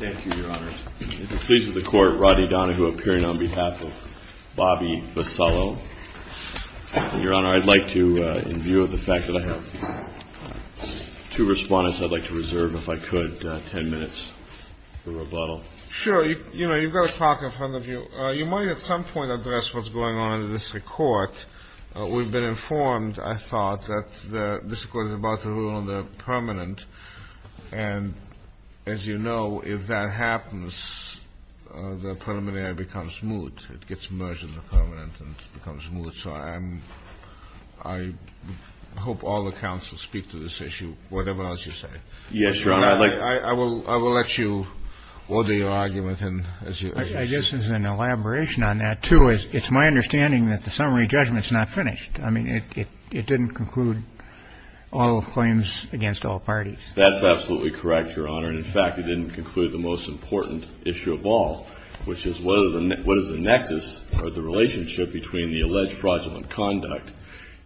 Your Honor, I'd like to, in view of the fact that I have two respondents, I'd like to reserve, if I could, ten minutes for rebuttal. Sure. You know, you've got a talk in front of you. You might at some point address what's going on in the district court. We've been informed, I thought, that the district court is about to rule on the permanent. And as you know, if that happens, the preliminary becomes moot. It gets merged in the permanent and becomes moot. So I hope all the counsel speak to this issue, whatever else you say. Yes, Your Honor. I will let you order your argument. I guess as an elaboration on that, too, it's my understanding that the summary judgment's not finished. I mean, it didn't conclude all claims against all parties. That's absolutely correct, Your Honor. And, in fact, it didn't conclude the most important issue of all, which is what is the nexus or the relationship between the alleged fraudulent conduct.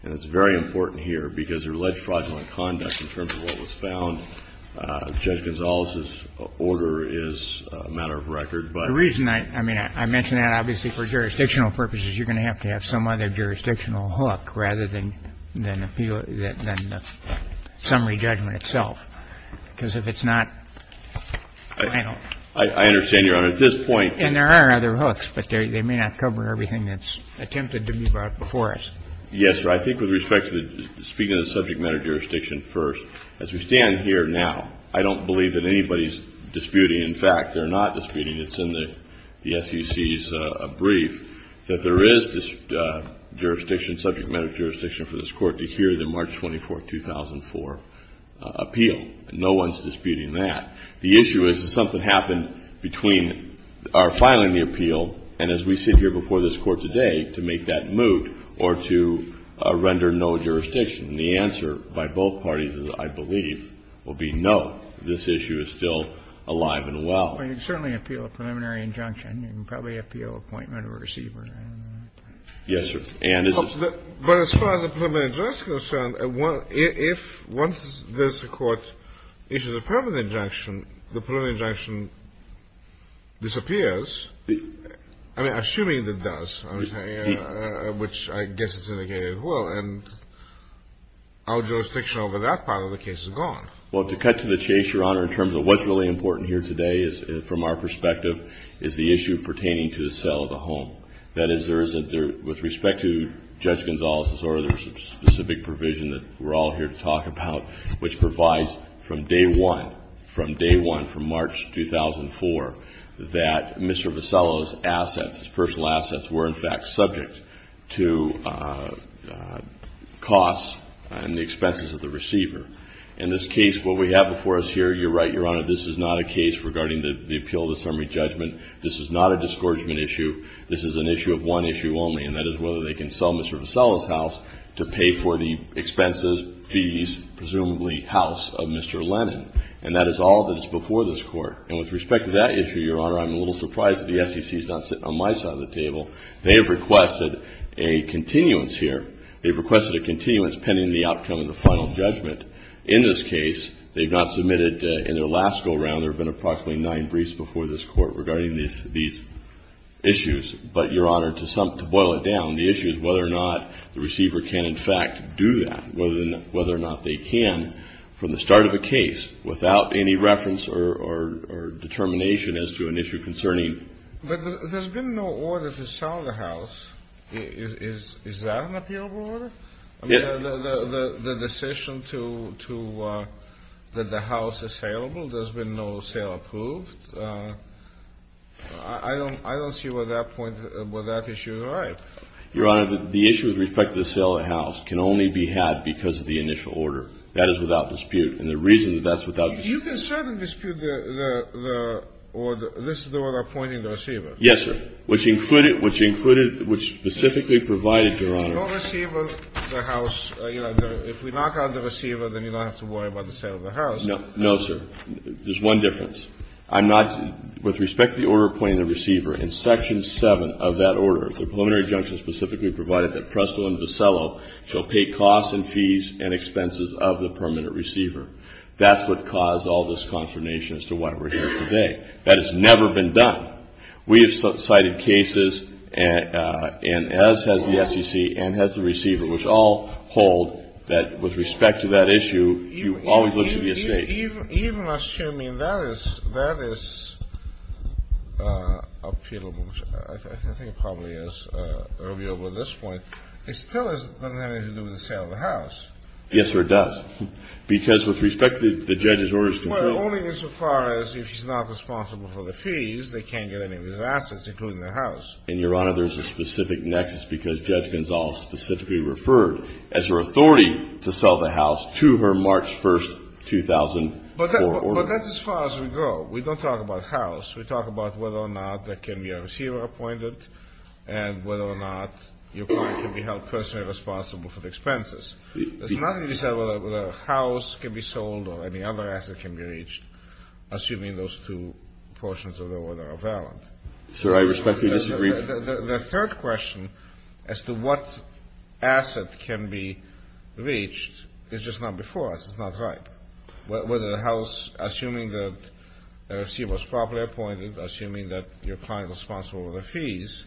And it's very important here because the alleged fraudulent conduct in terms of what was found, Judge Gonzales's order is a matter of record. The reason I mention that, obviously, for jurisdictional purposes, you're going to have to have some other jurisdictional hook rather than the summary judgment itself. Because if it's not final. I understand, Your Honor. At this point. And there are other hooks, but they may not cover everything that's attempted to be brought before us. Yes, sir. Well, I think with respect to speaking of subject matter jurisdiction first, as we stand here now, I don't believe that anybody's disputing. In fact, they're not disputing. It's in the SEC's brief that there is jurisdiction, subject matter jurisdiction for this Court to hear the March 24, 2004 appeal. No one's disputing that. The issue is that something happened between our filing the appeal and as we sit here before this Court today to make that moot or to render no jurisdiction. And the answer by both parties, I believe, will be no. This issue is still alive and well. Well, you can certainly appeal a preliminary injunction. You can probably appeal appointment of a receiver. Yes, sir. But as far as the preliminary injunction is concerned, if once this Court issues a permanent injunction, the preliminary injunction disappears. I mean, assuming that it does, which I guess is indicated as well, and our jurisdiction over that part of the case is gone. Well, to cut to the chase, Your Honor, in terms of what's really important here today from our perspective is the issue pertaining to the sale of the home. That is, there isn't, with respect to Judge Gonzalez's order, there's a specific provision that we're all here to talk about, which provides from day one, from day one, from March 2004, that Mr. Vassallo's assets, his personal assets, were in fact subject to costs and the expenses of the receiver. In this case, what we have before us here, you're right, Your Honor, this is not a case regarding the appeal of the summary judgment. This is not a discouragement issue. This is an issue of one issue only, and that is whether they can sell Mr. Vassallo's house to pay for the expenses, fees, presumably, house of Mr. Lennon. And that is all that is before this Court. And with respect to that issue, Your Honor, I'm a little surprised that the SEC is not sitting on my side of the table. They have requested a continuance here. They've requested a continuance pending the outcome of the final judgment. In this case, they've not submitted, in their last go-around, there have been approximately nine briefs before this Court regarding these issues. But, Your Honor, to boil it down, the issue is whether or not the receiver can, in fact, do that, and whether or not they can from the start of the case without any reference or determination as to an issue concerning. But there's been no order to sell the house. Is that an appealable order? I mean, the decision that the house is saleable, there's been no sale approved. I don't see where that point, where that issue is right. Your Honor, the issue with respect to the sale of the house can only be had because of the initial order. That is without dispute. And the reason that that's without dispute. You can certainly dispute the order, this order appointing the receiver. Yes, sir. Which included, which included, which specifically provided, Your Honor. If you don't receive the house, you know, if we knock out the receiver, then you don't have to worry about the sale of the house. No, sir. There's one difference. I'm not, with respect to the order appointing the receiver, in Section 7 of that order, the preliminary injunction specifically provided that Presto and Vasello shall pay costs and fees and expenses of the permanent receiver. That's what caused all this consternation as to why we're here today. That has never been done. We have cited cases, and as has the SEC and has the receiver, which all hold that with respect to that issue, you always look to the estate. Even assuming that is, that is appealable, which I think it probably is, earlier over at this point, it still doesn't have anything to do with the sale of the house. Yes, sir, it does. Because with respect to the judge's orders. Well, only insofar as if she's not responsible for the fees, they can't get any of his assets, including the house. And, Your Honor, there's a specific nexus because Judge Gonzales specifically referred as her authority to sell the house to her March 1, 2004 order. But that's as far as we go. We don't talk about house. We talk about whether or not there can be a receiver appointed and whether or not your client can be held personally responsible for the expenses. There's nothing to say whether a house can be sold or any other asset can be reached, assuming those two portions of the order are valid. Sir, I respectfully disagree. The third question as to what asset can be reached is just not before us. It's not right. Whether the house, assuming the receiver is properly appointed, assuming that your client is responsible for the fees,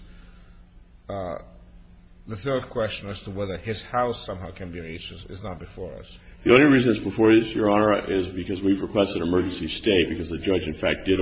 the third question as to whether his house somehow can be reached is not before us. The only reason it's before us, Your Honor, is because we've requested an emergency stay because the judge, in fact, did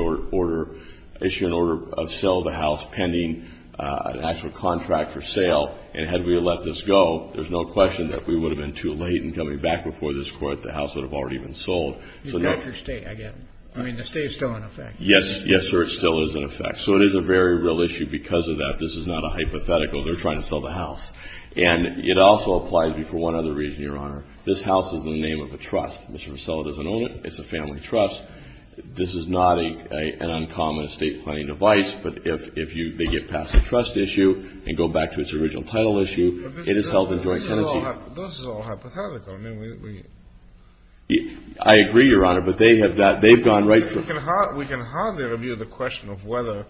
issue an order of sale of the house pending an actual contract for sale. And had we let this go, there's no question that we would have been too late in coming back before this Court. The house would have already been sold. It's not for stay, I get it. I mean, the stay is still in effect. Yes. Yes, sir, it still is in effect. So it is a very real issue because of that. This is not a hypothetical. They're trying to sell the house. And it also applies before one other reason, Your Honor. This house is in the name of a trust. Mr. Vercella doesn't own it. It's a family trust. This is not an uncommon estate planning device. But if they get past the trust issue and go back to its original title issue, it is held in joint tenancy. This is all hypothetical. I agree, Your Honor, but they have gone right through. We can hardly review the question of whether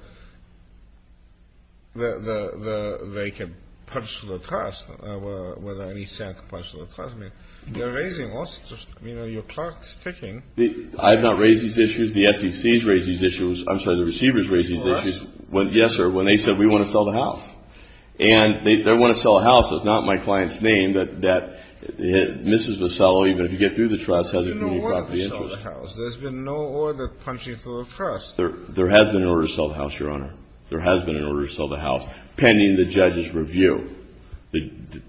they can purchase the trust, whether an ECM can purchase the trust. I mean, you're raising all sorts of, you know, you're clock-ticking. I have not raised these issues. The SEC has raised these issues. I'm sorry, the receivers raised these issues. Yes, sir, when they said, we want to sell the house. And they want to sell the house. It's not my client's name that Mrs. Vercella, even if you get through the trust, has a community property interest. There's been no order punching through the trust. There has been an order to sell the house, Your Honor. There has been an order to sell the house pending the judge's review.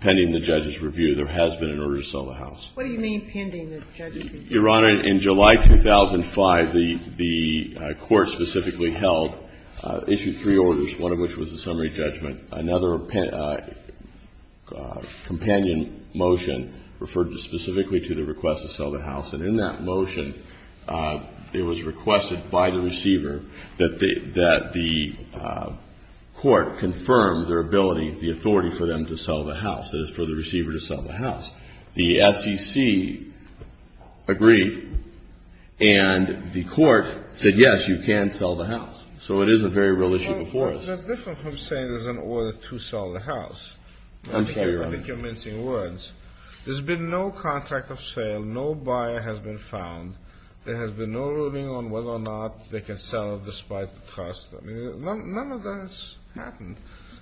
Pending the judge's review, there has been an order to sell the house. What do you mean pending the judge's review? Your Honor, in July 2005, the Court specifically held, issued three orders, one of which was a summary judgment. Another companion motion referred specifically to the request to sell the house. And in that motion, it was requested by the receiver that the Court confirm their ability, the authority for them to sell the house, that is, for the receiver to sell the house. The SEC agreed, and the Court said, yes, you can sell the house. So it is a very real issue before us. Well, that's different from saying there's an order to sell the house. I'm sorry, Your Honor. I think you're mincing words. There's been no contract of sale. No buyer has been found. There has been no ruling on whether or not they can sell despite the trust. I mean, none of that has happened.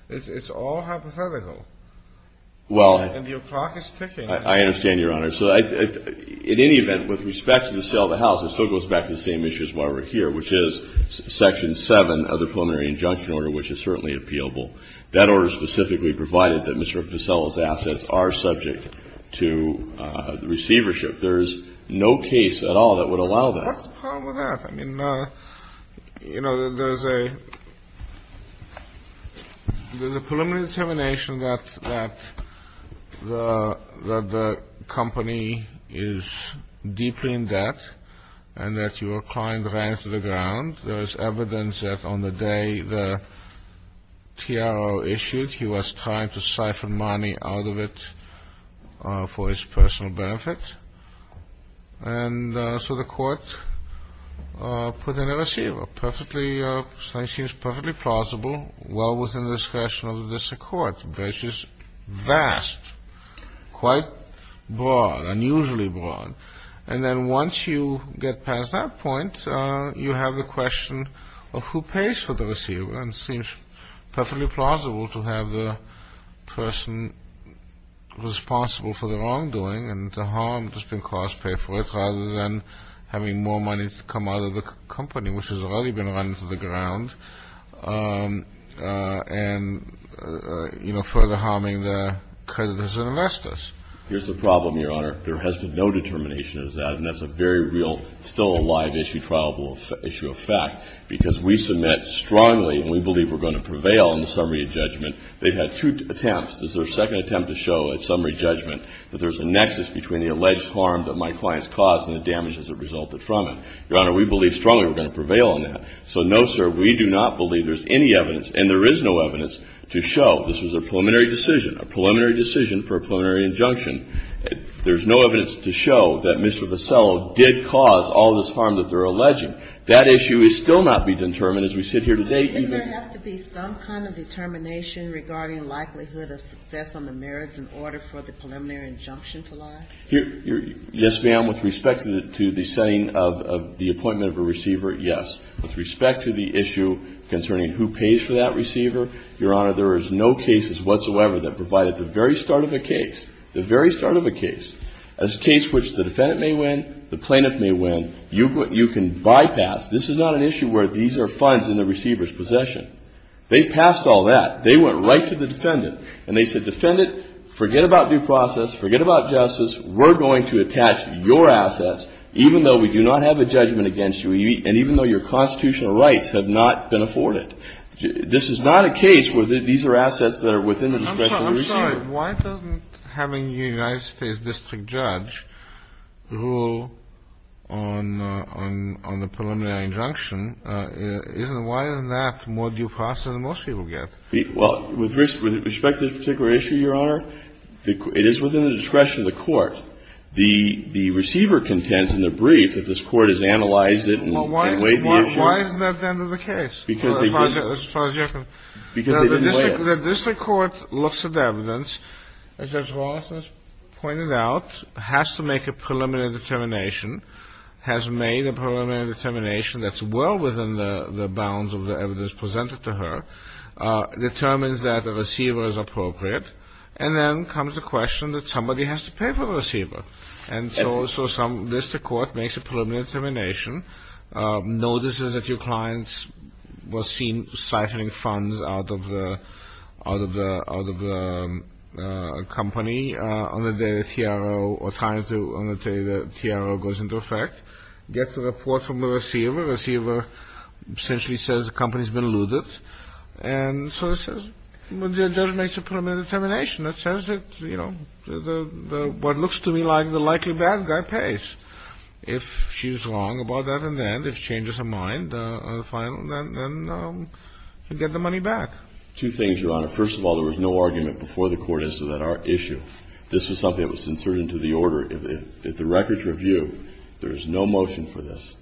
It's all hypothetical. And your clock is ticking. I understand, Your Honor. So in any event, with respect to the sale of the house, it still goes back to the same issues while we're here, which is Section 7 of the Preliminary Injunction Order, which is certainly appealable. That order specifically provided that Mr. Vassello's assets are subject to receivership. There is no case at all that would allow that. What's the problem with that? I mean, you know, there's a preliminary determination that the company is deeply in debt and that your client ran to the ground. There is evidence that on the day the TRO issued, he was trying to siphon money out of it for his personal benefit. And so the court put in a receiver. It seems perfectly plausible, well within the discretion of the district court, which is vast, quite broad, unusually broad. And then once you get past that point, you have the question of who pays for the receiver. And it seems perfectly plausible to have the person responsible for the wrongdoing and to harm the district court's pay for it rather than having more money come out of the company, which has already been run to the ground and, you know, further harming the creditors and investors. Here's the problem, Your Honor. There has been no determination of that, and that's a very real, still a live issue, of fact, because we submit strongly and we believe we're going to prevail in the summary judgment. They've had two attempts. This is their second attempt to show at summary judgment that there's a nexus between the alleged harm that my client's caused and the damages that resulted from it. Your Honor, we believe strongly we're going to prevail on that. So, no, sir, we do not believe there's any evidence, and there is no evidence to show this was a preliminary decision, a preliminary decision for a preliminary injunction. There's no evidence to show that Mr. Vassello did cause all this harm that they're alleging. That issue is still not to be determined as we sit here today. Doesn't there have to be some kind of determination regarding likelihood of success on the merits in order for the preliminary injunction to lie? Yes, ma'am, with respect to the setting of the appointment of a receiver, yes. With respect to the issue concerning who pays for that receiver, Your Honor, there is no cases whatsoever that provide at the very start of a case, the very start of a case, a case which the defendant may win, the plaintiff may win. You can bypass. This is not an issue where these are funds in the receiver's possession. They passed all that. They went right to the defendant, and they said, defendant, forget about due process. Forget about justice. We're going to attach your assets, even though we do not have a judgment against you, and even though your constitutional rights have not been afforded. This is not a case where these are assets that are within the discretion of the receiver. I'm sorry. Why doesn't having a United States district judge rule on the preliminary injunction isn't why isn't that more due process than most people get? Well, with respect to this particular issue, Your Honor, it is within the discretion of the court. The receiver contends in the brief that this court has analyzed it and weighed the issue. Why isn't that the end of the case, as far as you're concerned? Because they didn't weigh it. The district court looks at the evidence, as Judge Wallace has pointed out, has to make a preliminary determination, has made a preliminary determination that's well within the bounds of the evidence presented to her, determines that the receiver is appropriate, and then comes the question that somebody has to pay for the receiver. And so some district court makes a preliminary determination, notices that your client was seen siphoning funds out of the company on the day the TRO goes into effect, gets a report from the receiver. The receiver essentially says the company's been looted. And so the judge makes a preliminary determination that says that what looks to me like the likely bad guy pays. If she's wrong about that event, if she changes her mind, fine, then get the money back. Two things, Your Honor. First of all, there was no argument before the court as to that issue. This was something that was inserted into the order. If the record's review, there is no motion for this.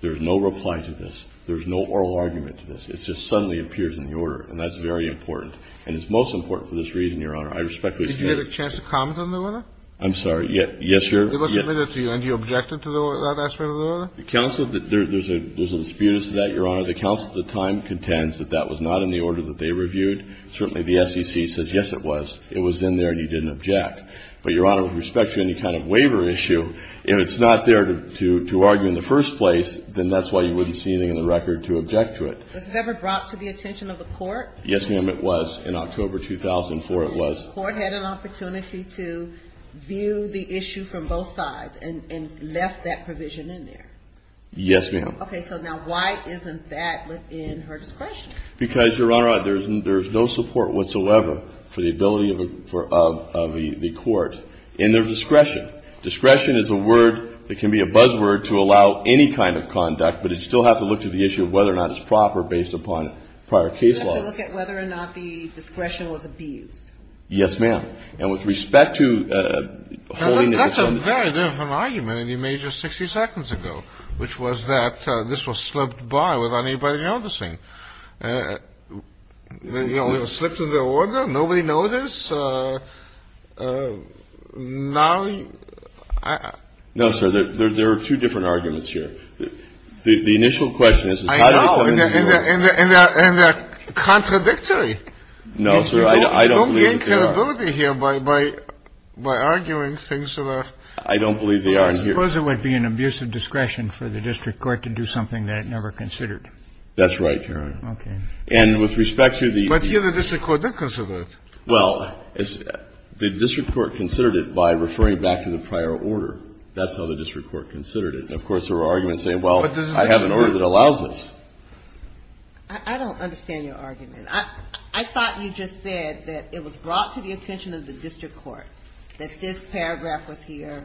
There is no reply to this. There is no oral argument to this. It just suddenly appears in the order, and that's very important. And it's most important for this reason, Your Honor. I respectfully stand. Did you get a chance to comment on the order? I'm sorry. Yes, Your Honor. It was submitted to you, and you objected to that aspect of the order? Counsel, there's a dispute as to that, Your Honor. The counsel at the time contends that that was not in the order that they reviewed. Certainly the SEC said, yes, it was. It was in there, and you didn't object. But, Your Honor, with respect to any kind of waiver issue, if it's not there to argue in the first place, then that's why you wouldn't see anything in the record to object to it. Was it ever brought to the attention of the court? Yes, ma'am, it was. In October 2004, it was. So the court had an opportunity to view the issue from both sides and left that provision in there? Yes, ma'am. Okay, so now why isn't that within her discretion? Because, Your Honor, there's no support whatsoever for the ability of the court in their discretion. Discretion is a word that can be a buzzword to allow any kind of conduct, but it still has to look to the issue of whether or not it's proper based upon prior case law. It has to look at whether or not the discretion was abused. Yes, ma'am. And with respect to holiness... That's a very different argument than you made just 60 seconds ago, which was that this was slipped by without anybody noticing. You know, it was slipped into order, nobody noticed. Now... No, sir, there are two different arguments here. The initial question is... I know, and they're contradictory. No, sir, I don't believe they are. You don't gain credibility here by arguing things that are... I don't believe they are. I suppose it would be an abuse of discretion for the district court to do something that it never considered. That's right, Your Honor. Okay. And with respect to the... But here the district court did consider it. Well, the district court considered it by referring back to the prior order. That's how the district court considered it. Of course, there are arguments saying, well, I have an order that allows this. I don't understand your argument. I thought you just said that it was brought to the attention of the district court that this paragraph was here,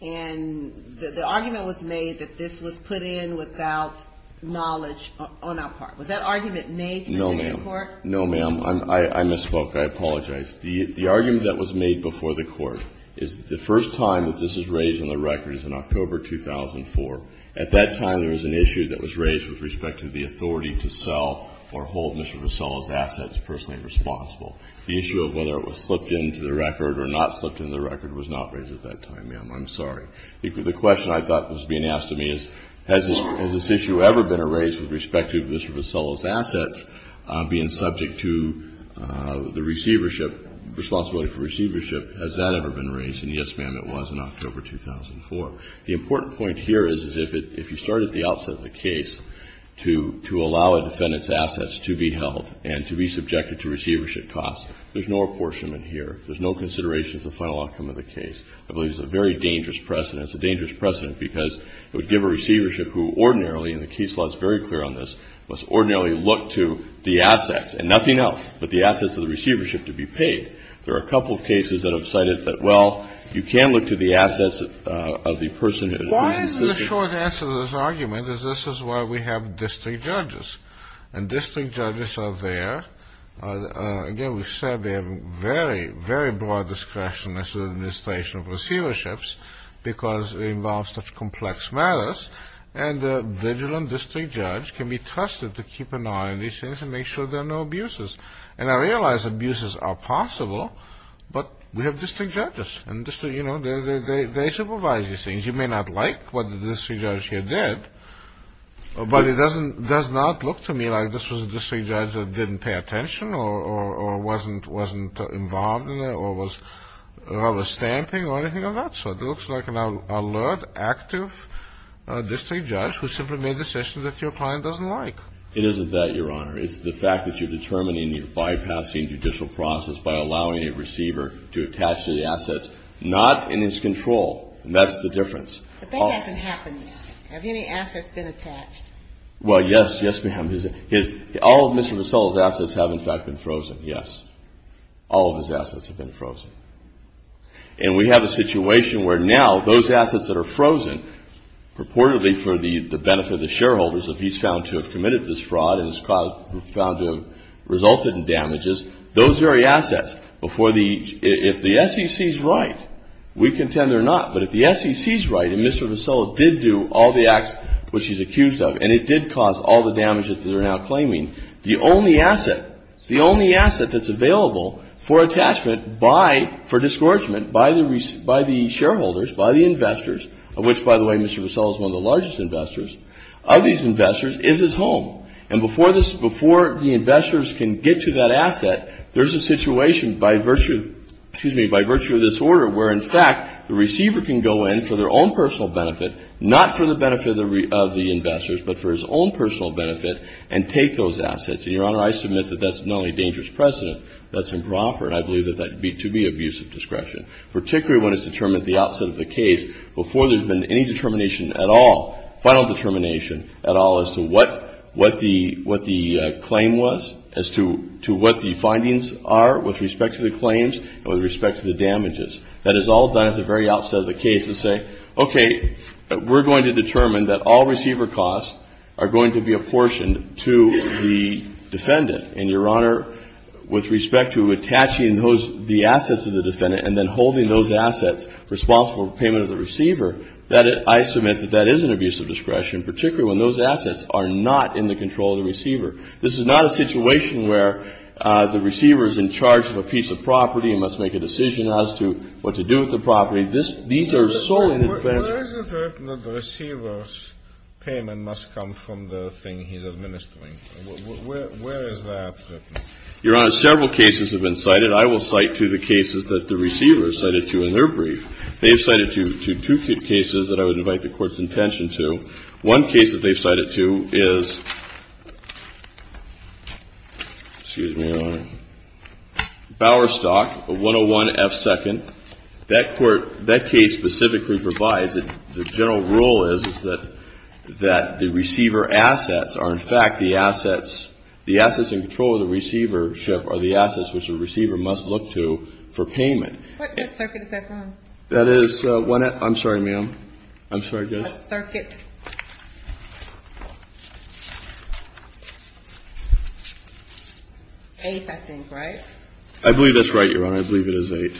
and the argument was made that this was put in without knowledge on our part. Was that argument made to the district court? No, ma'am. No, ma'am. I misspoke. I apologize. The argument that was made before the court is the first time that this is raised on the record is in October 2004. At that time, there was an issue that was raised with respect to the authority to sell or hold Mr. Vassallo's assets personally responsible. The issue of whether it was slipped into the record or not slipped into the record was not raised at that time, ma'am. I'm sorry. The question I thought was being asked of me is, has this issue ever been raised with respect to Mr. Vassallo's assets being subject to the receivership, responsibility for receivership? Has that ever been raised? And yes, ma'am, it was in October 2004. The important point here is if you start at the outset of the case to allow a defendant's assets to be held and to be subjected to receivership costs, there's no apportionment here. There's no consideration of the final outcome of the case. I believe it's a very dangerous precedent. It's a dangerous precedent because it would give a receivership who ordinarily and the case law is very clear on this, must ordinarily look to the assets and nothing else but the assets of the receivership to be paid. There are a couple of cases that have cited that, well, you can look to the assets of the person who has been subjected to it. Why is the short answer to this argument is this is why we have district judges. And district judges are there. Again, we've said they have very, very broad discretion as an administration of receiverships because it involves such complex matters. And a vigilant district judge can be trusted to keep an eye on these things and make sure there are no abuses. And I realize abuses are possible, but we have district judges. And, you know, they supervise these things. You may not like what the district judge here did, but it does not look to me like this was a district judge that didn't pay attention or wasn't involved in it or was rather stamping or anything like that. So it looks like an alert, active district judge who simply made decisions that your client doesn't like. It isn't that, Your Honor. It's the fact that you're determining the bypassing judicial process by allowing a And that's the difference. But that hasn't happened yet. Have any assets been attached? Well, yes. Yes, ma'am. All of Mr. Vassallo's assets have, in fact, been frozen. Yes. All of his assets have been frozen. And we have a situation where now those assets that are frozen purportedly for the benefit of the shareholders that he's found to have committed this fraud and has found to have resulted in damages, those very assets, if the SEC is right, we contend they're not. But if the SEC is right and Mr. Vassallo did do all the acts which he's accused of and it did cause all the damages that they're now claiming, the only asset, the only asset that's available for attachment by, for disgorgement by the shareholders, by the investors, of which, by the way, Mr. Vassallo is one of the largest investors, of these investors is his home. And before the investors can get to that asset, there's a situation by virtue of this order where, in fact, the receiver can go in for their own personal benefit, not for the benefit of the investors, but for his own personal benefit, and take those assets. And, Your Honor, I submit that that's not only a dangerous precedent, that's improper. And I believe that that would be, to me, abusive discretion, particularly when it's determined at the outset of the case before there's been any determination at all, final determination at all as to what, what the, what the claim was, as to what the findings are with respect to the claims and with respect to the damages. That is all done at the very outset of the case to say, okay, we're going to determine that all receiver costs are going to be apportioned to the defendant. And, Your Honor, with respect to attaching those, the assets of the defendant and then holding those assets responsible for payment of the receiver, that, I submit that that is an abusive discretion, particularly when those assets are not in the control of the receiver. This is not a situation where the receiver is in charge of a piece of property and must make a decision as to what to do with the property. This, these are solely the defense. Kennedy. Where is it written that the receiver's payment must come from the thing he's administering? Where, where, where is that written? Miller. Your Honor, several cases have been cited. I will cite two of the cases that the receiver has cited, too, in their brief. They have cited two, two cases that I would invite the Court's attention to. One case that they've cited, too, is, excuse me, Your Honor, Bowerstock, 101F2nd. That court, that case specifically provides that the general rule is that, that the receiver assets are, in fact, the assets, the assets in control of the receivership are the assets which the receiver must look to for payment. What circuit is that from? That is, I'm sorry, ma'am. I'm sorry, Judge. What circuit? Eight, I think, right? I believe that's right, Your Honor. I believe it is eight.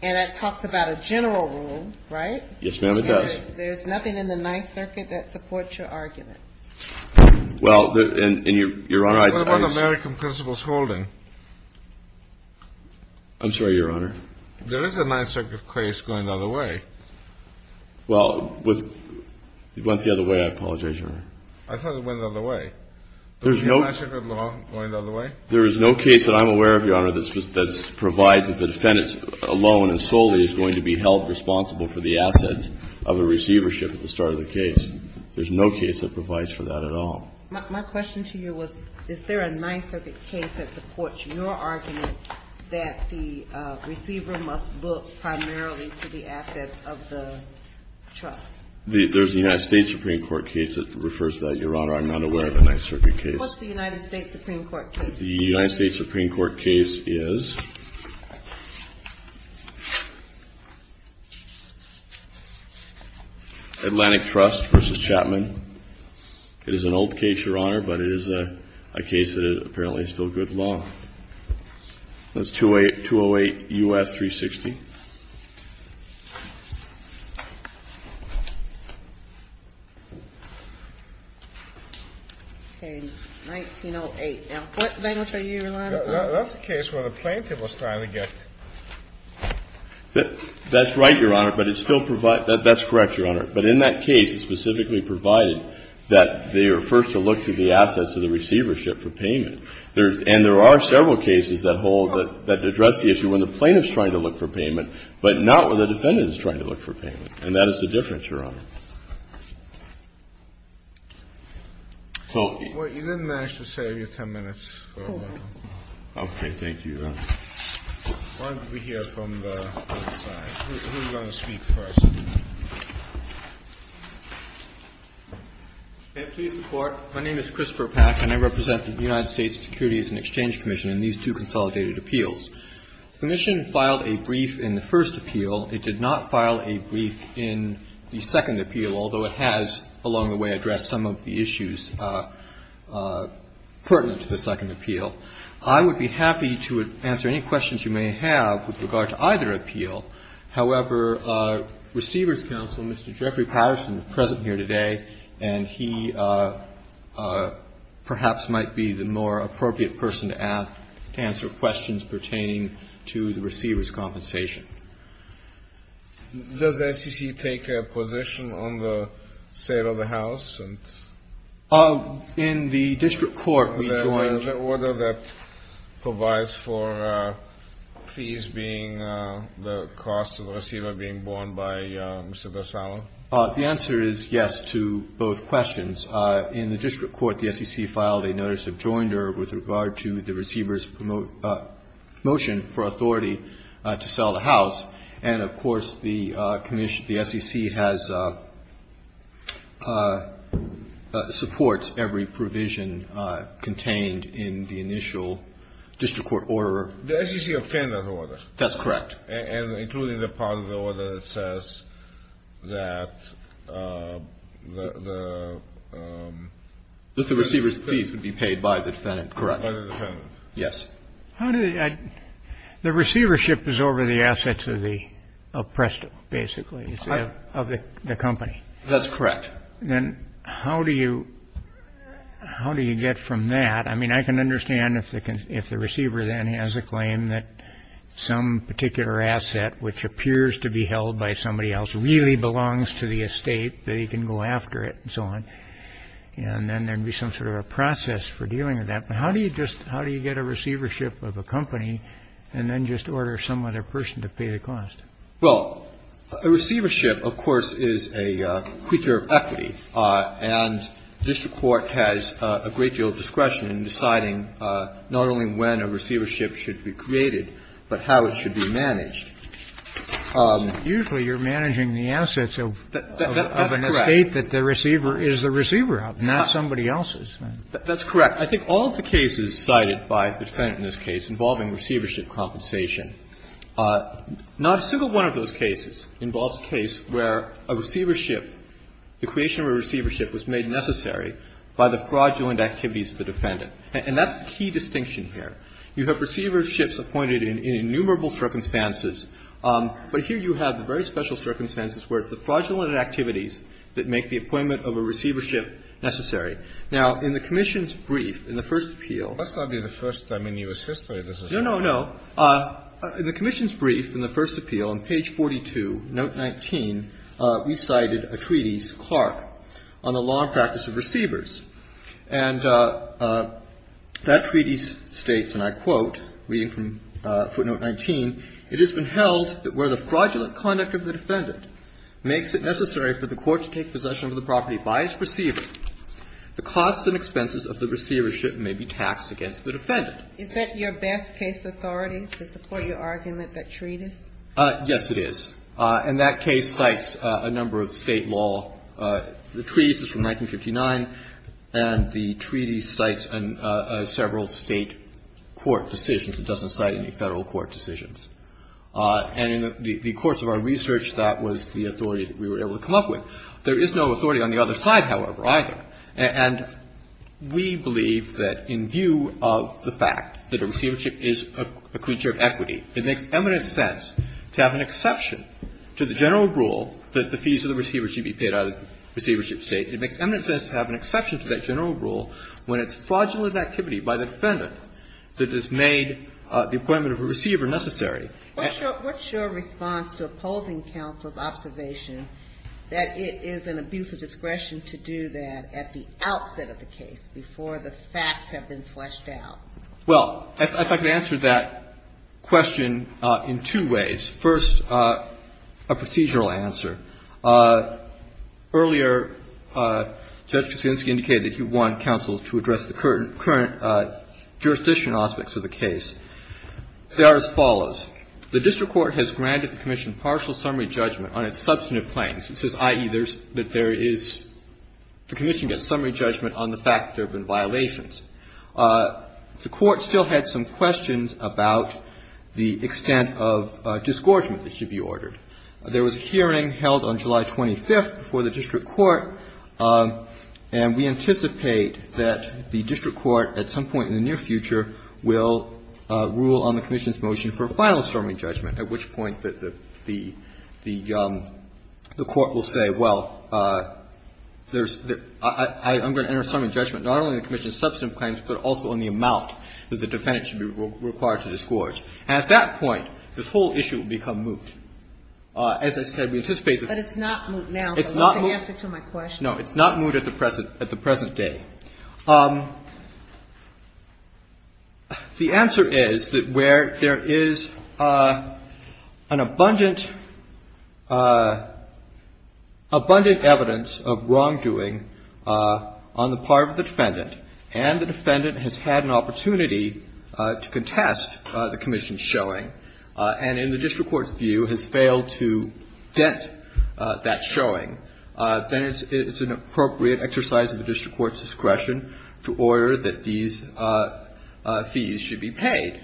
And it talks about a general rule, right? Yes, ma'am, it does. There's nothing in the Ninth Circuit that supports your argument. Well, and, and Your Honor, I. What about American Principles Holding? I'm sorry, Your Honor. There is a Ninth Circuit case going the other way. Well, with, it went the other way. I apologize, Your Honor. I thought it went the other way. There's no. Is the Ninth Circuit law going the other way? There is no case that I'm aware of, Your Honor, that provides that the defendant alone and solely is going to be held responsible for the assets of a receivership at the start of the case. There's no case that provides for that at all. My question to you was, is there a Ninth Circuit case that supports your argument that the receiver must look primarily to the assets of the trust? There's a United States Supreme Court case that refers to that, Your Honor. I'm not aware of a Ninth Circuit case. What's the United States Supreme Court case? The United States Supreme Court case is Atlantic Trust v. Chapman. It is an old case, Your Honor, but it is a case that apparently is still good law. That's 208 U.S. 360. Okay. 1908. Now, what language are you relying upon? That's the case where the plaintiff was trying to get. That's right, Your Honor, but it still provides. That's correct, Your Honor. But in that case, it specifically provided that they are first to look to the assets of the receivership for payment. And there are several cases that hold that address the issue when the plaintiff is trying to look for payment, but not when the defendant is trying to look for payment. And that is the difference, Your Honor. Well, you didn't manage to save your 10 minutes. Okay. Thank you, Your Honor. Why don't we hear from the other side? Who's going to speak first? May it please the Court. My name is Christopher Pack, and I represent the United States Security and Exchange Commission in these two consolidated appeals. The Commission filed a brief in the first appeal. It did not file a brief in the second appeal, although it has along the way addressed some of the issues pertinent to the second appeal. I would be happy to answer any questions you may have with regard to either appeal. However, receivers counsel, Mr. Jeffrey Patterson, is present here today, and he perhaps might be the more appropriate person to ask, to answer questions pertaining to the receiver's compensation. Does SEC take a position on the sale of the house? In the district court, we joined. The order that provides for fees being the cost of the receiver being borne by Mr. Barsano? The answer is yes to both questions. In the district court, the SEC filed a notice of joinder with regard to the receiver's motion for authority to sell the house. And, of course, the SEC has supports every provision contained in the initial district court order. The SEC obtained that order. That's correct. And including the part of the order that says that the receiver's fee should be paid by the defendant. By the defendant. Yes. The receivership is over the assets of Presto, basically, of the company. That's correct. Then how do you get from that? I mean, I can understand if the receiver then has a claim that some particular asset, which appears to be held by somebody else, really belongs to the estate, that he can go after it and so on. And then there would be some sort of a process for dealing with that. How do you get a receivership of a company and then just order some other person to pay the cost? Well, a receivership, of course, is a creature of equity. And district court has a great deal of discretion in deciding not only when a receivership should be created, but how it should be managed. Usually you're managing the assets of an estate that the receiver is the receiver of, not somebody else's. That's correct. I think all of the cases cited by the defendant in this case involving receivership compensation, not a single one of those cases involves a case where a receivership the creation of a receivership was made necessary by the fraudulent activities of the defendant. And that's the key distinction here. You have receiverships appointed in innumerable circumstances. But here you have the very special circumstances where it's the fraudulent activities that make the appointment of a receivership necessary. Now, in the commission's brief in the first appeal. That's not the first time in U.S. history this has happened. No, no, no. In the commission's brief in the first appeal on page 42, note 19, we cited a treatise, Clark, on the law and practice of receivers. And that treatise states, and I quote, reading from footnote 19, it has been held that where the fraudulent conduct of the defendant makes it necessary for the court to take possession of the property by its receiver, the costs and expenses of the receivership may be taxed against the defendant. Is that your best case authority to support your argument that treatise? Yes, it is. And that case cites a number of State law. The treatise is from 1959, and the treaty cites several State court decisions. It doesn't cite any Federal court decisions. And in the course of our research, that was the authority that we were able to come up with. There is no authority on the other side, however, either. And we believe that in view of the fact that a receivership is a creature of equity, it makes eminent sense to have an exception to the general rule that the fees of the receiver should be paid out of the receivership state. It makes eminent sense to have an exception to that general rule when it's fraudulent activity by the defendant that has made the appointment of a receiver necessary. What's your response to opposing counsel's observation that it is an abuse of discretion to do that at the outset of the case before the facts have been fleshed out? Well, if I could answer that question in two ways. First, a procedural answer. Earlier, Judge Kuczynski indicated he wanted counsel to address the current jurisdiction aspects of the case. They are as follows. The district court has granted the commission partial summary judgment on its substantive claims. It says, i.e., that there is the commission gets summary judgment on the fact that there have been violations. The court still had some questions about the extent of disgorgement that should be ordered. There was a hearing held on July 25th before the district court, and we anticipate that the district court at some point in the near future will rule on the commission's motion for a final summary judgment, at which point the court will say, well, I'm going to enter a summary judgment not only on the commission's substantive claims, but also on the amount that the defendant should be required to disgorge. And at that point, this whole issue will become moot. As I said, we anticipate that it's not moot now, so that's the answer to my question. No, it's not moot at the present day. The answer is that where there is an abundant, abundant evidence of wrongdoing on the part of the defendant, and the defendant has had an opportunity to contest the commission's showing, and in the district court's view has failed to vet that showing, then it's an appropriate exercise of the district court's discretion to order that these fees should be paid.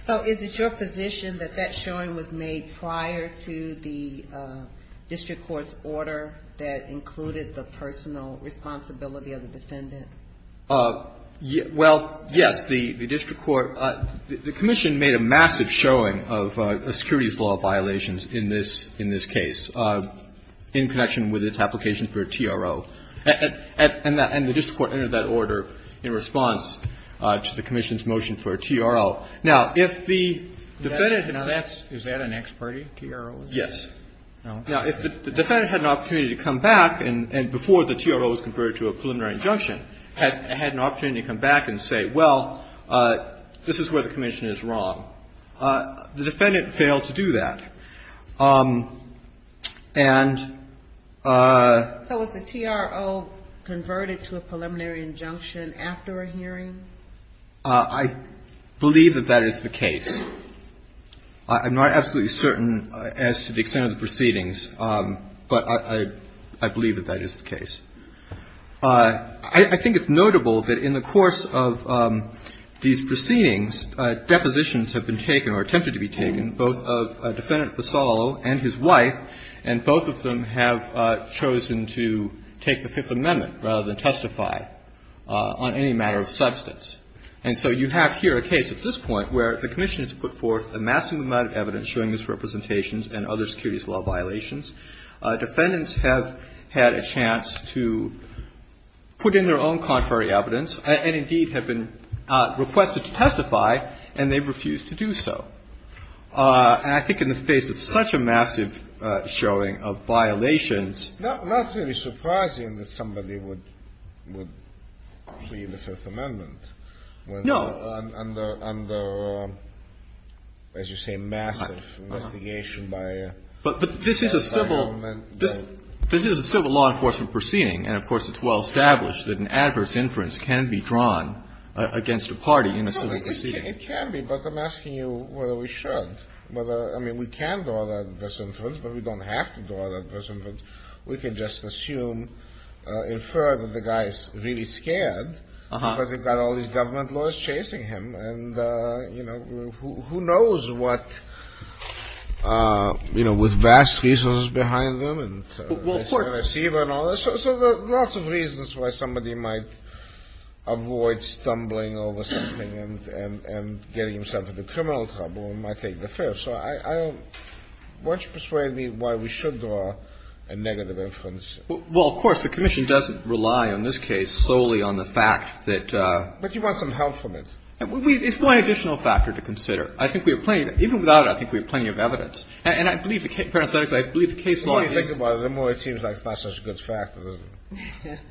So is it your position that that showing was made prior to the district court's Well, yes. The district court – the commission made a massive showing of securities law violations in this case in connection with its application for a TRO. And the district court entered that order in response to the commission's motion for a TRO. Now, if the defendant had an opportunity to come back, and before the TRO was converted to a preliminary injunction, had an opportunity to come back and say, well, this is where the commission is wrong, the defendant failed to do that. And – So was the TRO converted to a preliminary injunction after a hearing? I believe that that is the case. I'm not absolutely certain as to the extent of the proceedings, but I believe that that is the case. I think it's notable that in the course of these proceedings, depositions have been taken or attempted to be taken, both of Defendant Vassallo and his wife, and both of them have chosen to take the Fifth Amendment rather than testify on any matter of substance. And so you have here a case at this point where the commission has put forth a massive amount of evidence showing these representations and other securities law violations. Defendants have had a chance to put in their own contrary evidence and, indeed, have been requested to testify, and they've refused to do so. And I think in the face of such a massive showing of violations – Not really surprising that somebody would plead the Fifth Amendment when – No. – under, as you say, massive investigation by – But this is a civil law enforcement proceeding, and, of course, it's well established that an adverse inference can be drawn against a party in a civil proceeding. No, it can be, but I'm asking you whether we should, whether – I mean, we can draw that adverse inference, but we don't have to draw that adverse inference. We can just assume, infer that the guy's really scared because he's got all these government laws chasing him, and, you know, who knows what – You know, with vast resources behind them and – Well, of course – So there are lots of reasons why somebody might avoid stumbling over something and getting himself into criminal trouble and might take the Fifth. So I don't – won't you persuade me why we should draw a negative inference? Well, of course, the commission doesn't rely on this case solely on the fact that – But you want some help from it. It's one additional factor to consider. I think we have plenty of – even without it, I think we have plenty of evidence. And I believe, parenthetically, I believe the case law is – The more you think about it, the more it seems like it's not such a good factor, doesn't it?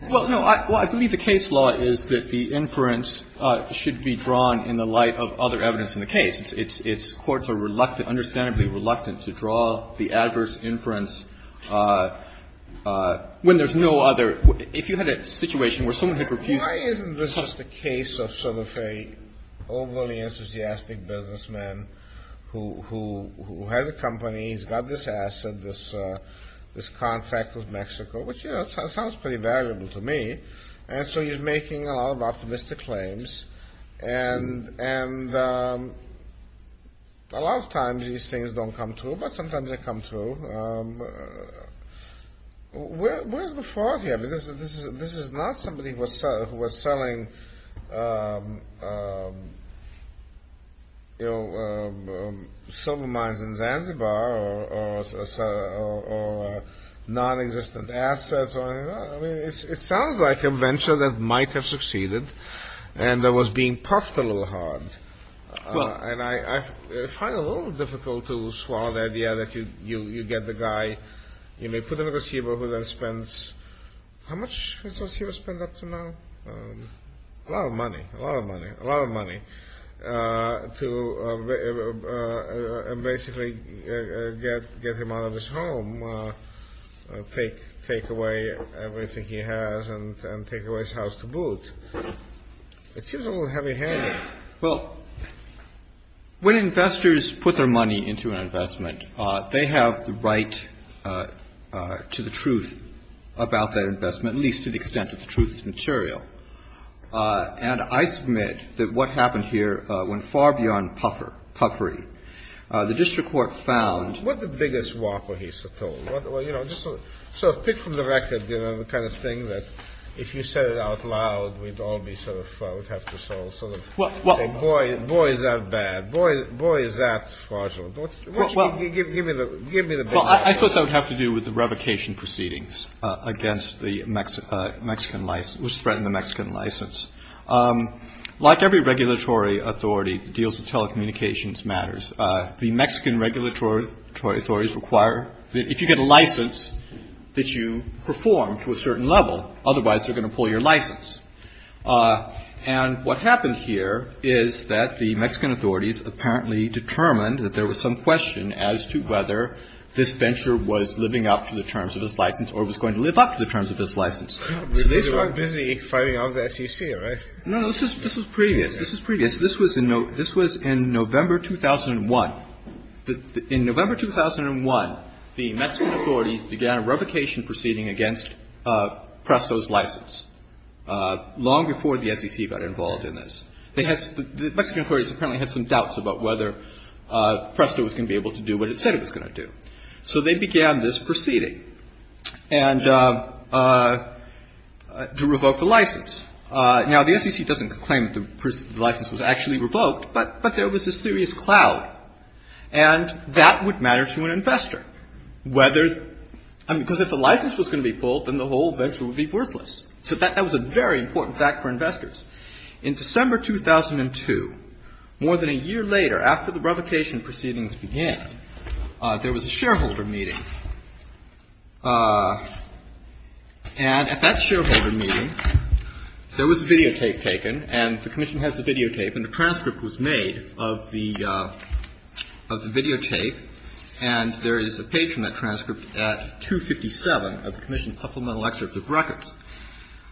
Well, no. I believe the case law is that the inference should be drawn in the light of other evidence in the case. It's – courts are reluctantly, understandably reluctant to draw the adverse inference when there's no other – if you had a situation where someone had refused – Why isn't this just a case of sort of a overly enthusiastic businessman who has a company, he's got this asset, this contract with Mexico, which, you know, sounds pretty valuable to me. And so he's making a lot of optimistic claims. And a lot of times these things don't come true, but sometimes they come true. Where's the fraud here? This is not somebody who was selling, you know, silver mines in Zanzibar or non-existent assets. I mean, it sounds like a venture that might have succeeded and that was being puffed a little hard. And I find it a little difficult to swallow the idea that you get the guy – you may put him in Zanzibar who then spends – how much has Zanzibar spent up to now? A lot of money. A lot of money. A lot of money to basically get him out of his home, take away everything he has and take away his house to boot. It seems a little heavy-handed. Well, when investors put their money into an investment, they have the right to the truth about that investment, at least to the extent that the truth is material. And I submit that what happened here went far beyond puffery. The district court found – What's the biggest whopper he's told? You know, just sort of pick from the record, you know, the kind of thing that if you said it out loud, we'd all be sort of – we'd have to sort of say, boy, is that bad. Boy, is that fraudulent. Give me the big picture. Well, I suppose that would have to do with the revocation proceedings against the Mexican – which threatened the Mexican license. Like every regulatory authority that deals with telecommunications matters, the Mexican regulatory authorities require that if you get a license that you perform to a certain level, otherwise they're going to pull your license. And what happened here is that the Mexican authorities apparently determined that there was some question as to whether this venture was living up to the terms of his license or was going to live up to the terms of his license. They were busy fighting off the SEC, right? No, no. This was previous. This was previous. This was in November 2001. In November 2001, the Mexican authorities began a revocation proceeding against PRESTO's license, long before the SEC got involved in this. They had – the Mexican authorities apparently had some doubts about whether PRESTO was going to be able to do what it said it was going to do. So they began this proceeding and – to revoke the license. Now, the SEC doesn't claim that the license was actually revoked, but there was a serious cloud, and that would matter to an investor, whether – because if the license was going to be pulled, then the whole venture would be worthless. So that was a very important fact for investors. In December 2002, more than a year later, after the revocation proceedings began, there was a shareholder meeting. And at that shareholder meeting, there was videotape taken, and the Commission has the videotape, and the transcript was made of the videotape. And there is a page from that transcript at 257 of the Commission's supplemental excerpt of records.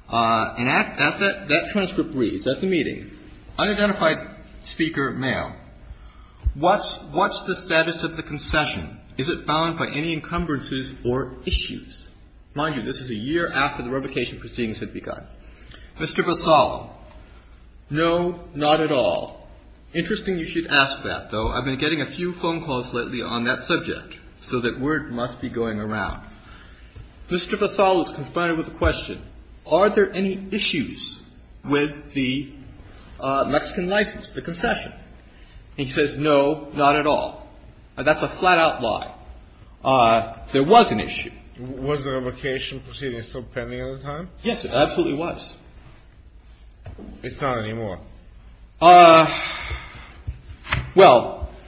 And at that transcript reads, at the meeting, unidentified speaker, male, what's the status of the concession? Is it bound by any encumbrances or issues? Mind you, this is a year after the revocation proceedings had begun. Mr. Basal, no, not at all. Interesting you should ask that, though. I've been getting a few phone calls lately on that subject, so that word must be going around. Mr. Basal is confronted with the question, are there any issues with the Mexican license, the concession? And he says, no, not at all. That's a flat-out lie. There was an issue. Was the revocation proceedings still pending at the time? Yes, it absolutely was. It's not anymore. Well,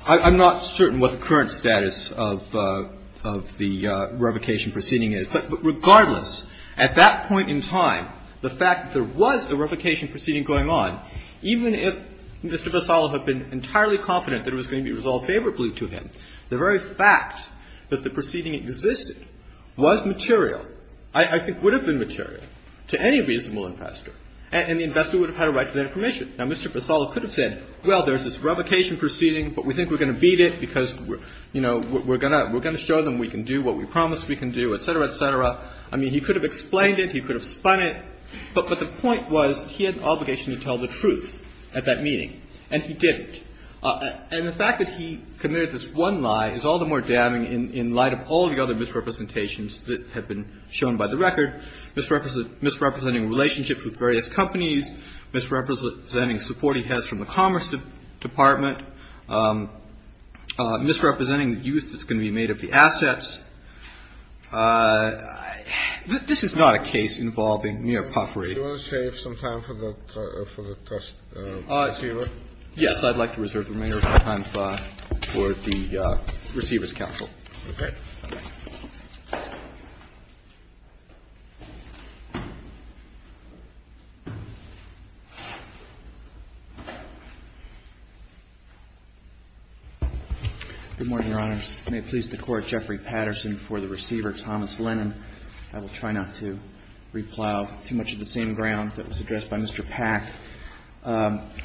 I'm not certain what the current status of the revocation proceeding is. But regardless, at that point in time, the fact that there was a revocation proceeding going on, even if Mr. Basal had been entirely confident that it was going to be resolved favorably to him, the very fact that the proceeding existed was material, I think would have been material. And the fact that the proceeding was not material would have been material to any reasonable investor. And the investor would have had a right to that information. Now, Mr. Basal could have said, well, there's this revocation proceeding, but we think we're going to beat it because, you know, we're going to show them we can do what we promise we can do, et cetera, et cetera. I mean, he could have explained it. He could have spun it. But the point was he had an obligation to tell the truth at that meeting, and he didn't. And the fact that he committed this one lie is all the more damning in light of all the other misrepresentations that have been shown by the record, misrepresenting relationships with various companies, misrepresenting support he has from the Commerce Department, misrepresenting the use that's going to be made of the assets. This is not a case involving mere puffery. Do you want to save some time for the test receiver? Yes. I'd like to reserve the remainder of my time for the receiver's counsel. Okay. Good morning, Your Honors. May it please the Court, Jeffrey Patterson for the receiver, Thomas Lennon. I will try not to replow too much of the same ground that was addressed by Mr. Pack.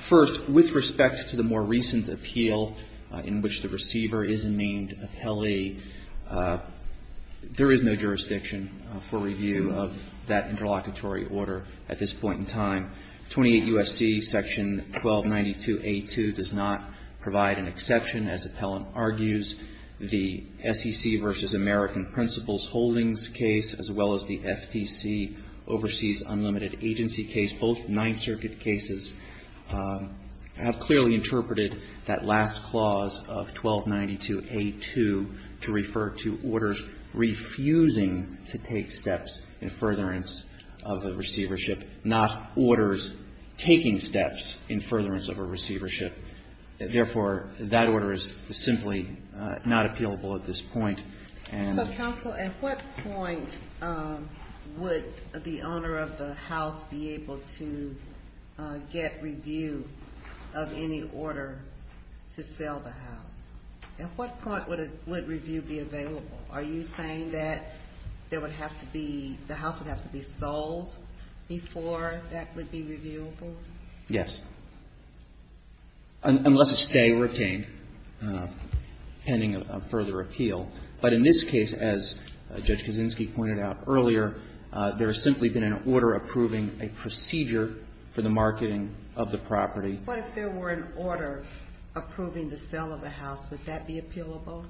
First, with respect to the more recent appeal in which the receiver is named appellee, there is no jurisdiction for review of that interlocutory order at this point in time. 28 U.S.C. Section 1292A2 does not provide an exception. As appellant argues, the SEC versus American Principals Holdings case, as well as the FTC Overseas Unlimited Agency case, both Ninth Circuit cases have clearly interpreted that last clause of 1292A2 to refer to orders refusing to take steps in furtherance of a receivership, not orders taking steps in furtherance of a receivership. Therefore, that order is simply not appealable at this point. So, counsel, at what point would the owner of the house be able to get review of any order to sell the house? At what point would review be available? Are you saying that the house would have to be sold before that would be reviewable? Yes. Unless a stay were obtained pending a further appeal. But in this case, as Judge Kaczynski pointed out earlier, there has simply been an order approving a procedure for the marketing of the property. What if there were an order approving the sale of the house? Would that be appealable?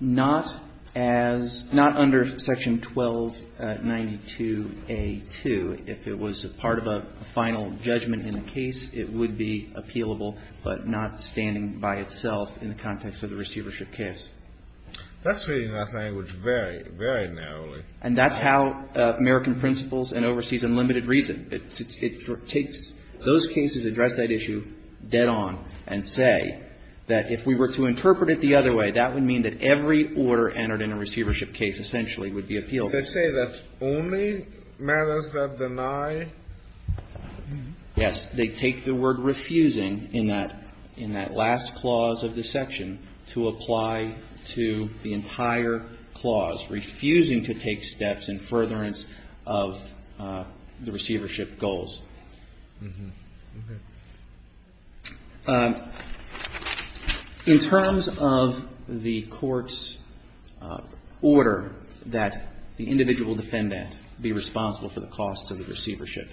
Not as, not under section 1292A2. If it was a part of a final judgment in the case, it would be appealable, but not standing by itself in the context of the receivership case. That's reading that language very, very narrowly. And that's how American Principals and Overseas Unlimited reads it. Those cases address that issue dead on and say that if we were to interpret it the other way, that would mean that every order entered in a receivership case essentially would be appealable. They say that's only matters that deny? Yes. They take the word refusing in that last clause of the section to apply to the entire clause, refusing to take steps in furtherance of the receivership goals. In terms of the court's order that the individual defendant be responsible for the cost of the receivership,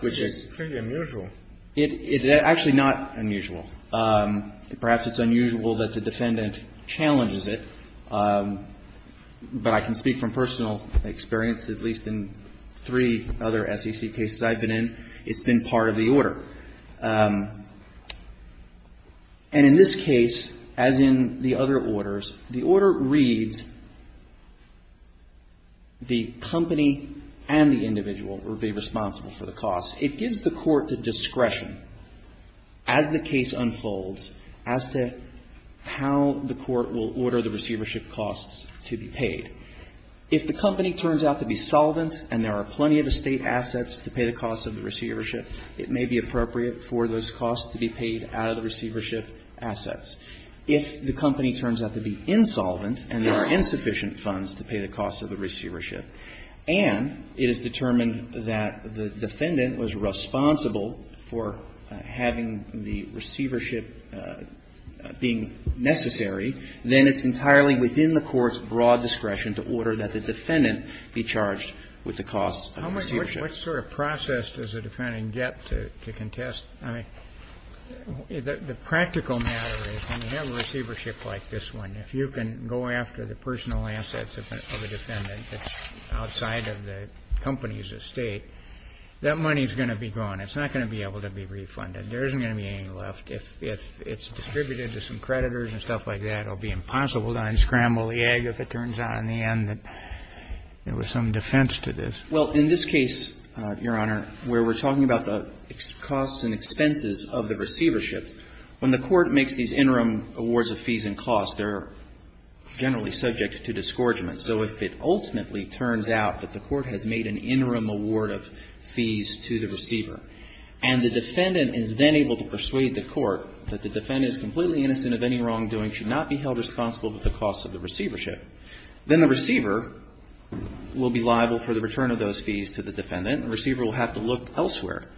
which is pretty unusual. It's actually not unusual. Perhaps it's unusual that the defendant challenges it. But I can speak from personal experience, at least in three other SEC cases I've been in, it's been part of the order. And in this case, as in the other orders, the order reads the company and the individual would be responsible for the cost. It gives the court the discretion as the case unfolds as to how the court will order the receivership costs to be paid. If the company turns out to be solvent and there are plenty of estate assets to pay the cost of the receivership, it may be appropriate for those costs to be paid out of the receivership assets. If the company turns out to be insolvent and there are insufficient funds to pay the cost of the receivership, and it is determined that the defendant was responsible for having the receivership being necessary, then it's entirely within the court's broad discretion to order that the defendant be charged with the cost of the receivership. Kennedy. What sort of process does a defendant get to contest? I mean, the practical matter is when you have a receivership like this one, if you can go after the personal assets of a defendant, that's outside of the company's estate, that money is going to be gone. It's not going to be able to be refunded. There isn't going to be any left. If it's distributed to some creditors and stuff like that, it will be impossible to unscramble the egg if it turns out in the end that there was some defense to this. Well, in this case, Your Honor, where we're talking about the costs and expenses of the receivership, when the court makes these interim awards of fees and costs, they're generally subject to disgorgement. So if it ultimately turns out that the court has made an interim award of fees to the receiver and the defendant is then able to persuade the court that the defendant is completely innocent of any wrongdoing, should not be held responsible for the cost of the receivership, then the receiver will be liable for the return of those fees to the defendant. The receiver will have to look elsewhere,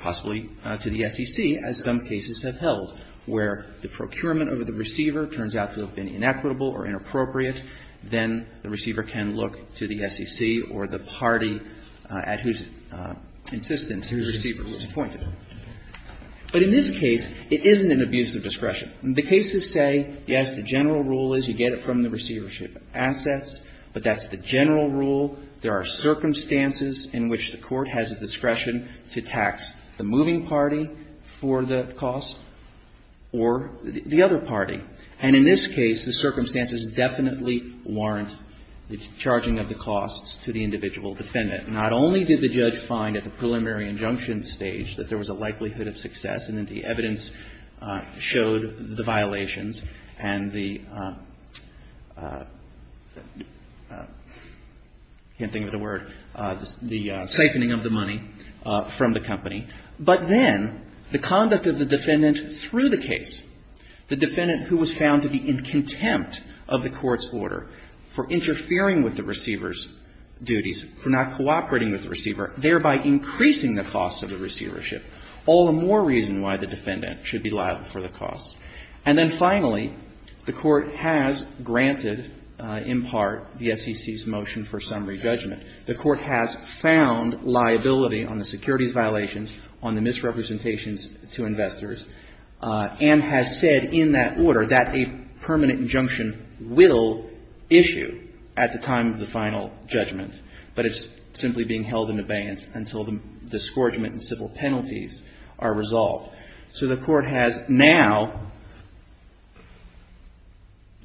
possibly to the SEC, as some cases have held, where the procurement over the receiver turns out to have been inequitable or inappropriate, then the receiver can look to the SEC or the party at whose insistence the receiver was appointed. But in this case, it isn't an abuse of discretion. The cases say, yes, the general rule is you get it from the receivership assets, but that's the general rule. There are circumstances in which the court has a discretion to tax the moving party for the cost or the other party. And in this case, the circumstances definitely warrant the charging of the costs to the individual defendant. Not only did the judge find at the preliminary injunction stage that there was a likelihood of success and that the evidence showed the violations and the — I can't think of the word — the siphoning of the money from the company, but then the conduct of the defendant through the case. The defendant who was found to be in contempt of the court's order for interfering with the receiver's duties, for not cooperating with the receiver, thereby increasing the costs of the receivership. All the more reason why the defendant should be liable for the costs. And then finally, the Court has granted, in part, the SEC's motion for summary judgment. The Court has found liability on the securities violations, on the misrepresentations to investors, and has said in that order that a permanent injunction will issue at the time of the final judgment, but it's simply being held in abeyance until the disgorgement and civil penalties are resolved. So the Court has now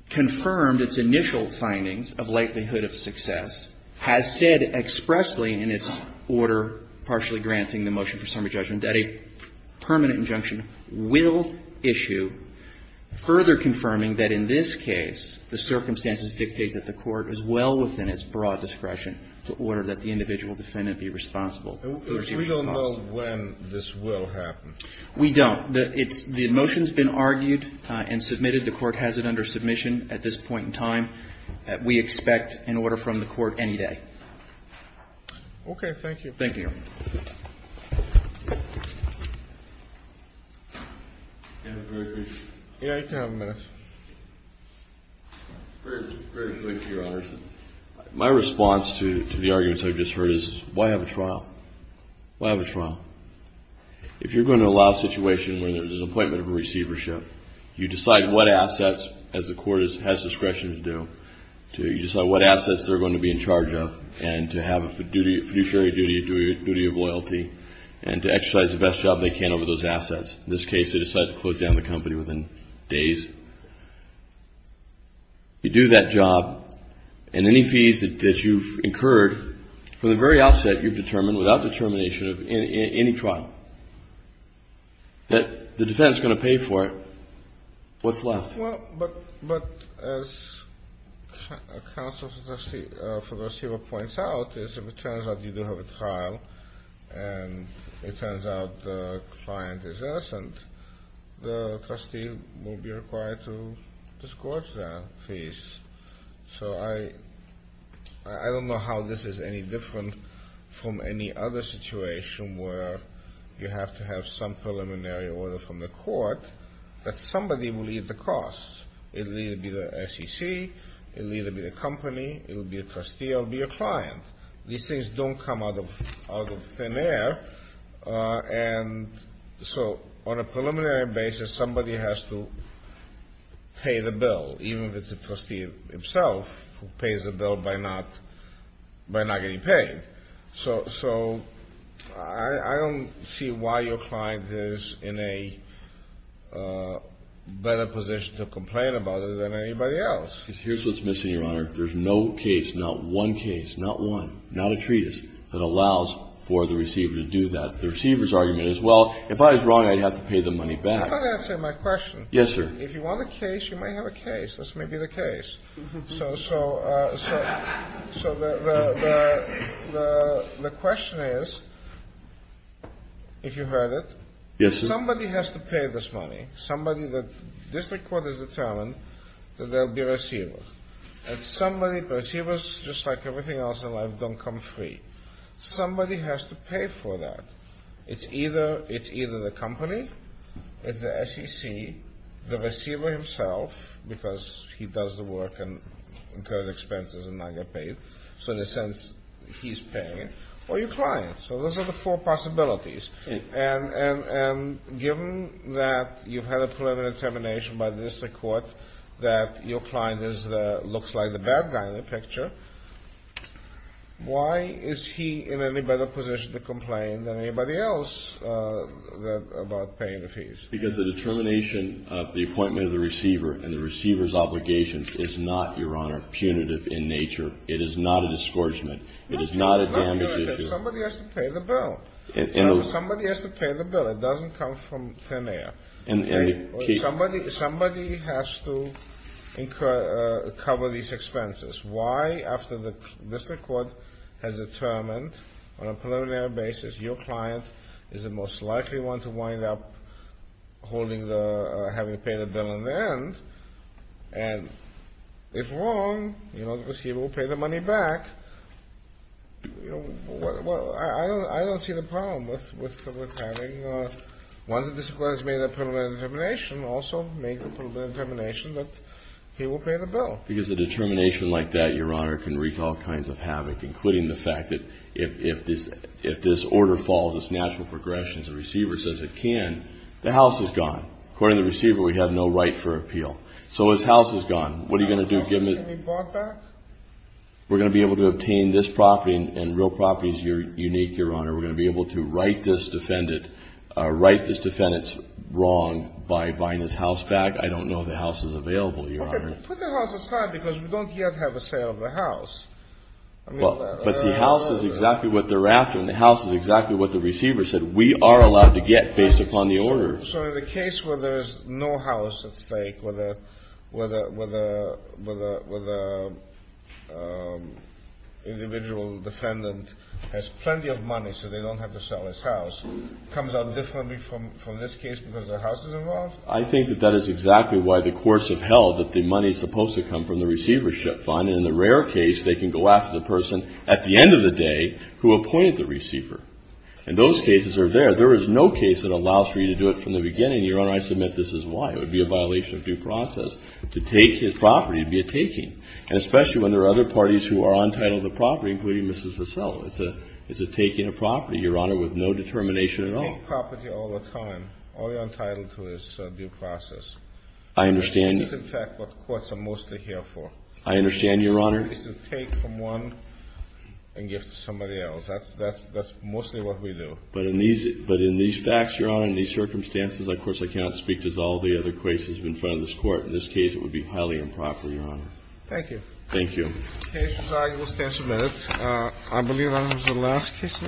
confirmed its initial findings of likelihood of success, has said expressly in its order partially granting the motion for summary judgment that a permanent injunction will issue, further confirming that in this case the circumstances dictate that the Court is well within its broad discretion to order that the individual defendant be responsible. We don't know when this will happen. We don't. The motion's been argued and submitted. The Court has it under submission at this point in time. We expect an order from the Court any day. Okay. Thank you. You have a very brief... Yeah, you can have a minute. Very, very brief, Your Honors. My response to the arguments I've just heard is, why have a trial? Why have a trial? If you're going to allow a situation where there's an appointment of a receivership, you decide what assets, as the Court has discretion to do, you decide what assets they're going to be in charge of and to have a fiduciary duty, a duty of loyalty, and to exercise the best job they can over those assets. In this case, they decide to close down the company within days. You do that job, and any fees that you've incurred from the very outset you've determined without determination of any trial, that the defendant's going to pay for it. What's left? Well, but as counsel for the receiver points out, is if it turns out you do have a trial, and it turns out the client is innocent, the trustee will be required to discourage their fees. So I don't know how this is any different from any other situation where you have to have some It'll either be the SEC, it'll either be the company, it'll be a trustee, or it'll be a client. These things don't come out of thin air, and so on a preliminary basis, somebody has to pay the bill, even if it's the trustee himself who pays the bill by not getting paid. So I don't see why your client is in a better position to complain about it than anybody else. Because here's what's missing, Your Honor. There's no case, not one case, not one, not a treatise that allows for the receiver to do that. The receiver's argument is, well, if I was wrong, I'd have to pay the money back. I'm not answering my question. Yes, sir. If you want a case, you may have a case. This may be the case. So the question is, if you heard it, somebody has to pay this money. Somebody that this record has determined that they'll be a receiver. And receivers, just like everything else in life, don't come free. Somebody has to pay for that. It's either the company, it's the SEC, the receiver himself, because he does the work and incurs expenses and not get paid. So in a sense, he's paying it. Or your client. So those are the four possibilities. And given that you've had a preliminary determination by the district court that your client looks like the bad guy in the picture, why is he in any better position to complain than anybody else about paying the fees? Because the determination of the appointment of the receiver and the receiver's obligation is not, Your Honor, punitive in nature. It is not a disgorgement. It is not a damage issue. Somebody has to pay the bill. Somebody has to pay the bill. It doesn't come from thin air. Somebody has to cover these expenses. Why, after the district court has determined on a preliminary basis your client is the most likely one to wind up having to pay the bill in the end, and if wrong, you know, the receiver will pay the money back, you know, I don't see the problem with having one of the disciplines made a preliminary determination also make the preliminary determination that he will pay the bill. Because a determination like that, Your Honor, can wreak all kinds of havoc, including the fact that if this order falls, it's natural progression as the receiver says it can, the house is gone. According to the receiver, we have no right for appeal. So his house is gone. What are you going to do? Give him his house back? We're going to be able to obtain this property, and real property is unique, Your Honor. We're going to be able to right this defendant's wrong by buying his house back. I don't know if the house is available, Your Honor. Put the house aside because we don't yet have a sale of the house. But the house is exactly what they're after, and the house is exactly what the receiver said we are allowed to get based upon the order. So in the case where there is no house at stake, where the individual defendant has plenty of money so they don't have to sell his house, comes out differently from this case because the house is involved? I think that that is exactly why the courts have held that the money is supposed to come from the receivership fund, and in the rare case, they can go after the person at the end of the day who appointed the receiver. And those cases are there. There is no case that allows for you to do it from the beginning, Your Honor. I submit this is why. It would be a violation of due process to take his property, to be a taking, and especially when there are other parties who are entitled to the property, including Mrs. Vassell. It's a taking of property, Your Honor, with no determination at all. You take property all the time. All you're entitled to is due process. I understand. This is, in fact, what courts are mostly here for. I understand, Your Honor. It's to take from one and give to somebody else. That's mostly what we do. But in these facts, Your Honor, in these circumstances, of course, I cannot speak to all the other cases in front of this Court. In this case, it would be highly improper, Your Honor. Thank you. Thank you. The case is argued. We'll stand for a minute. I believe, Your Honor, this is the last case of the court. We are adjourned.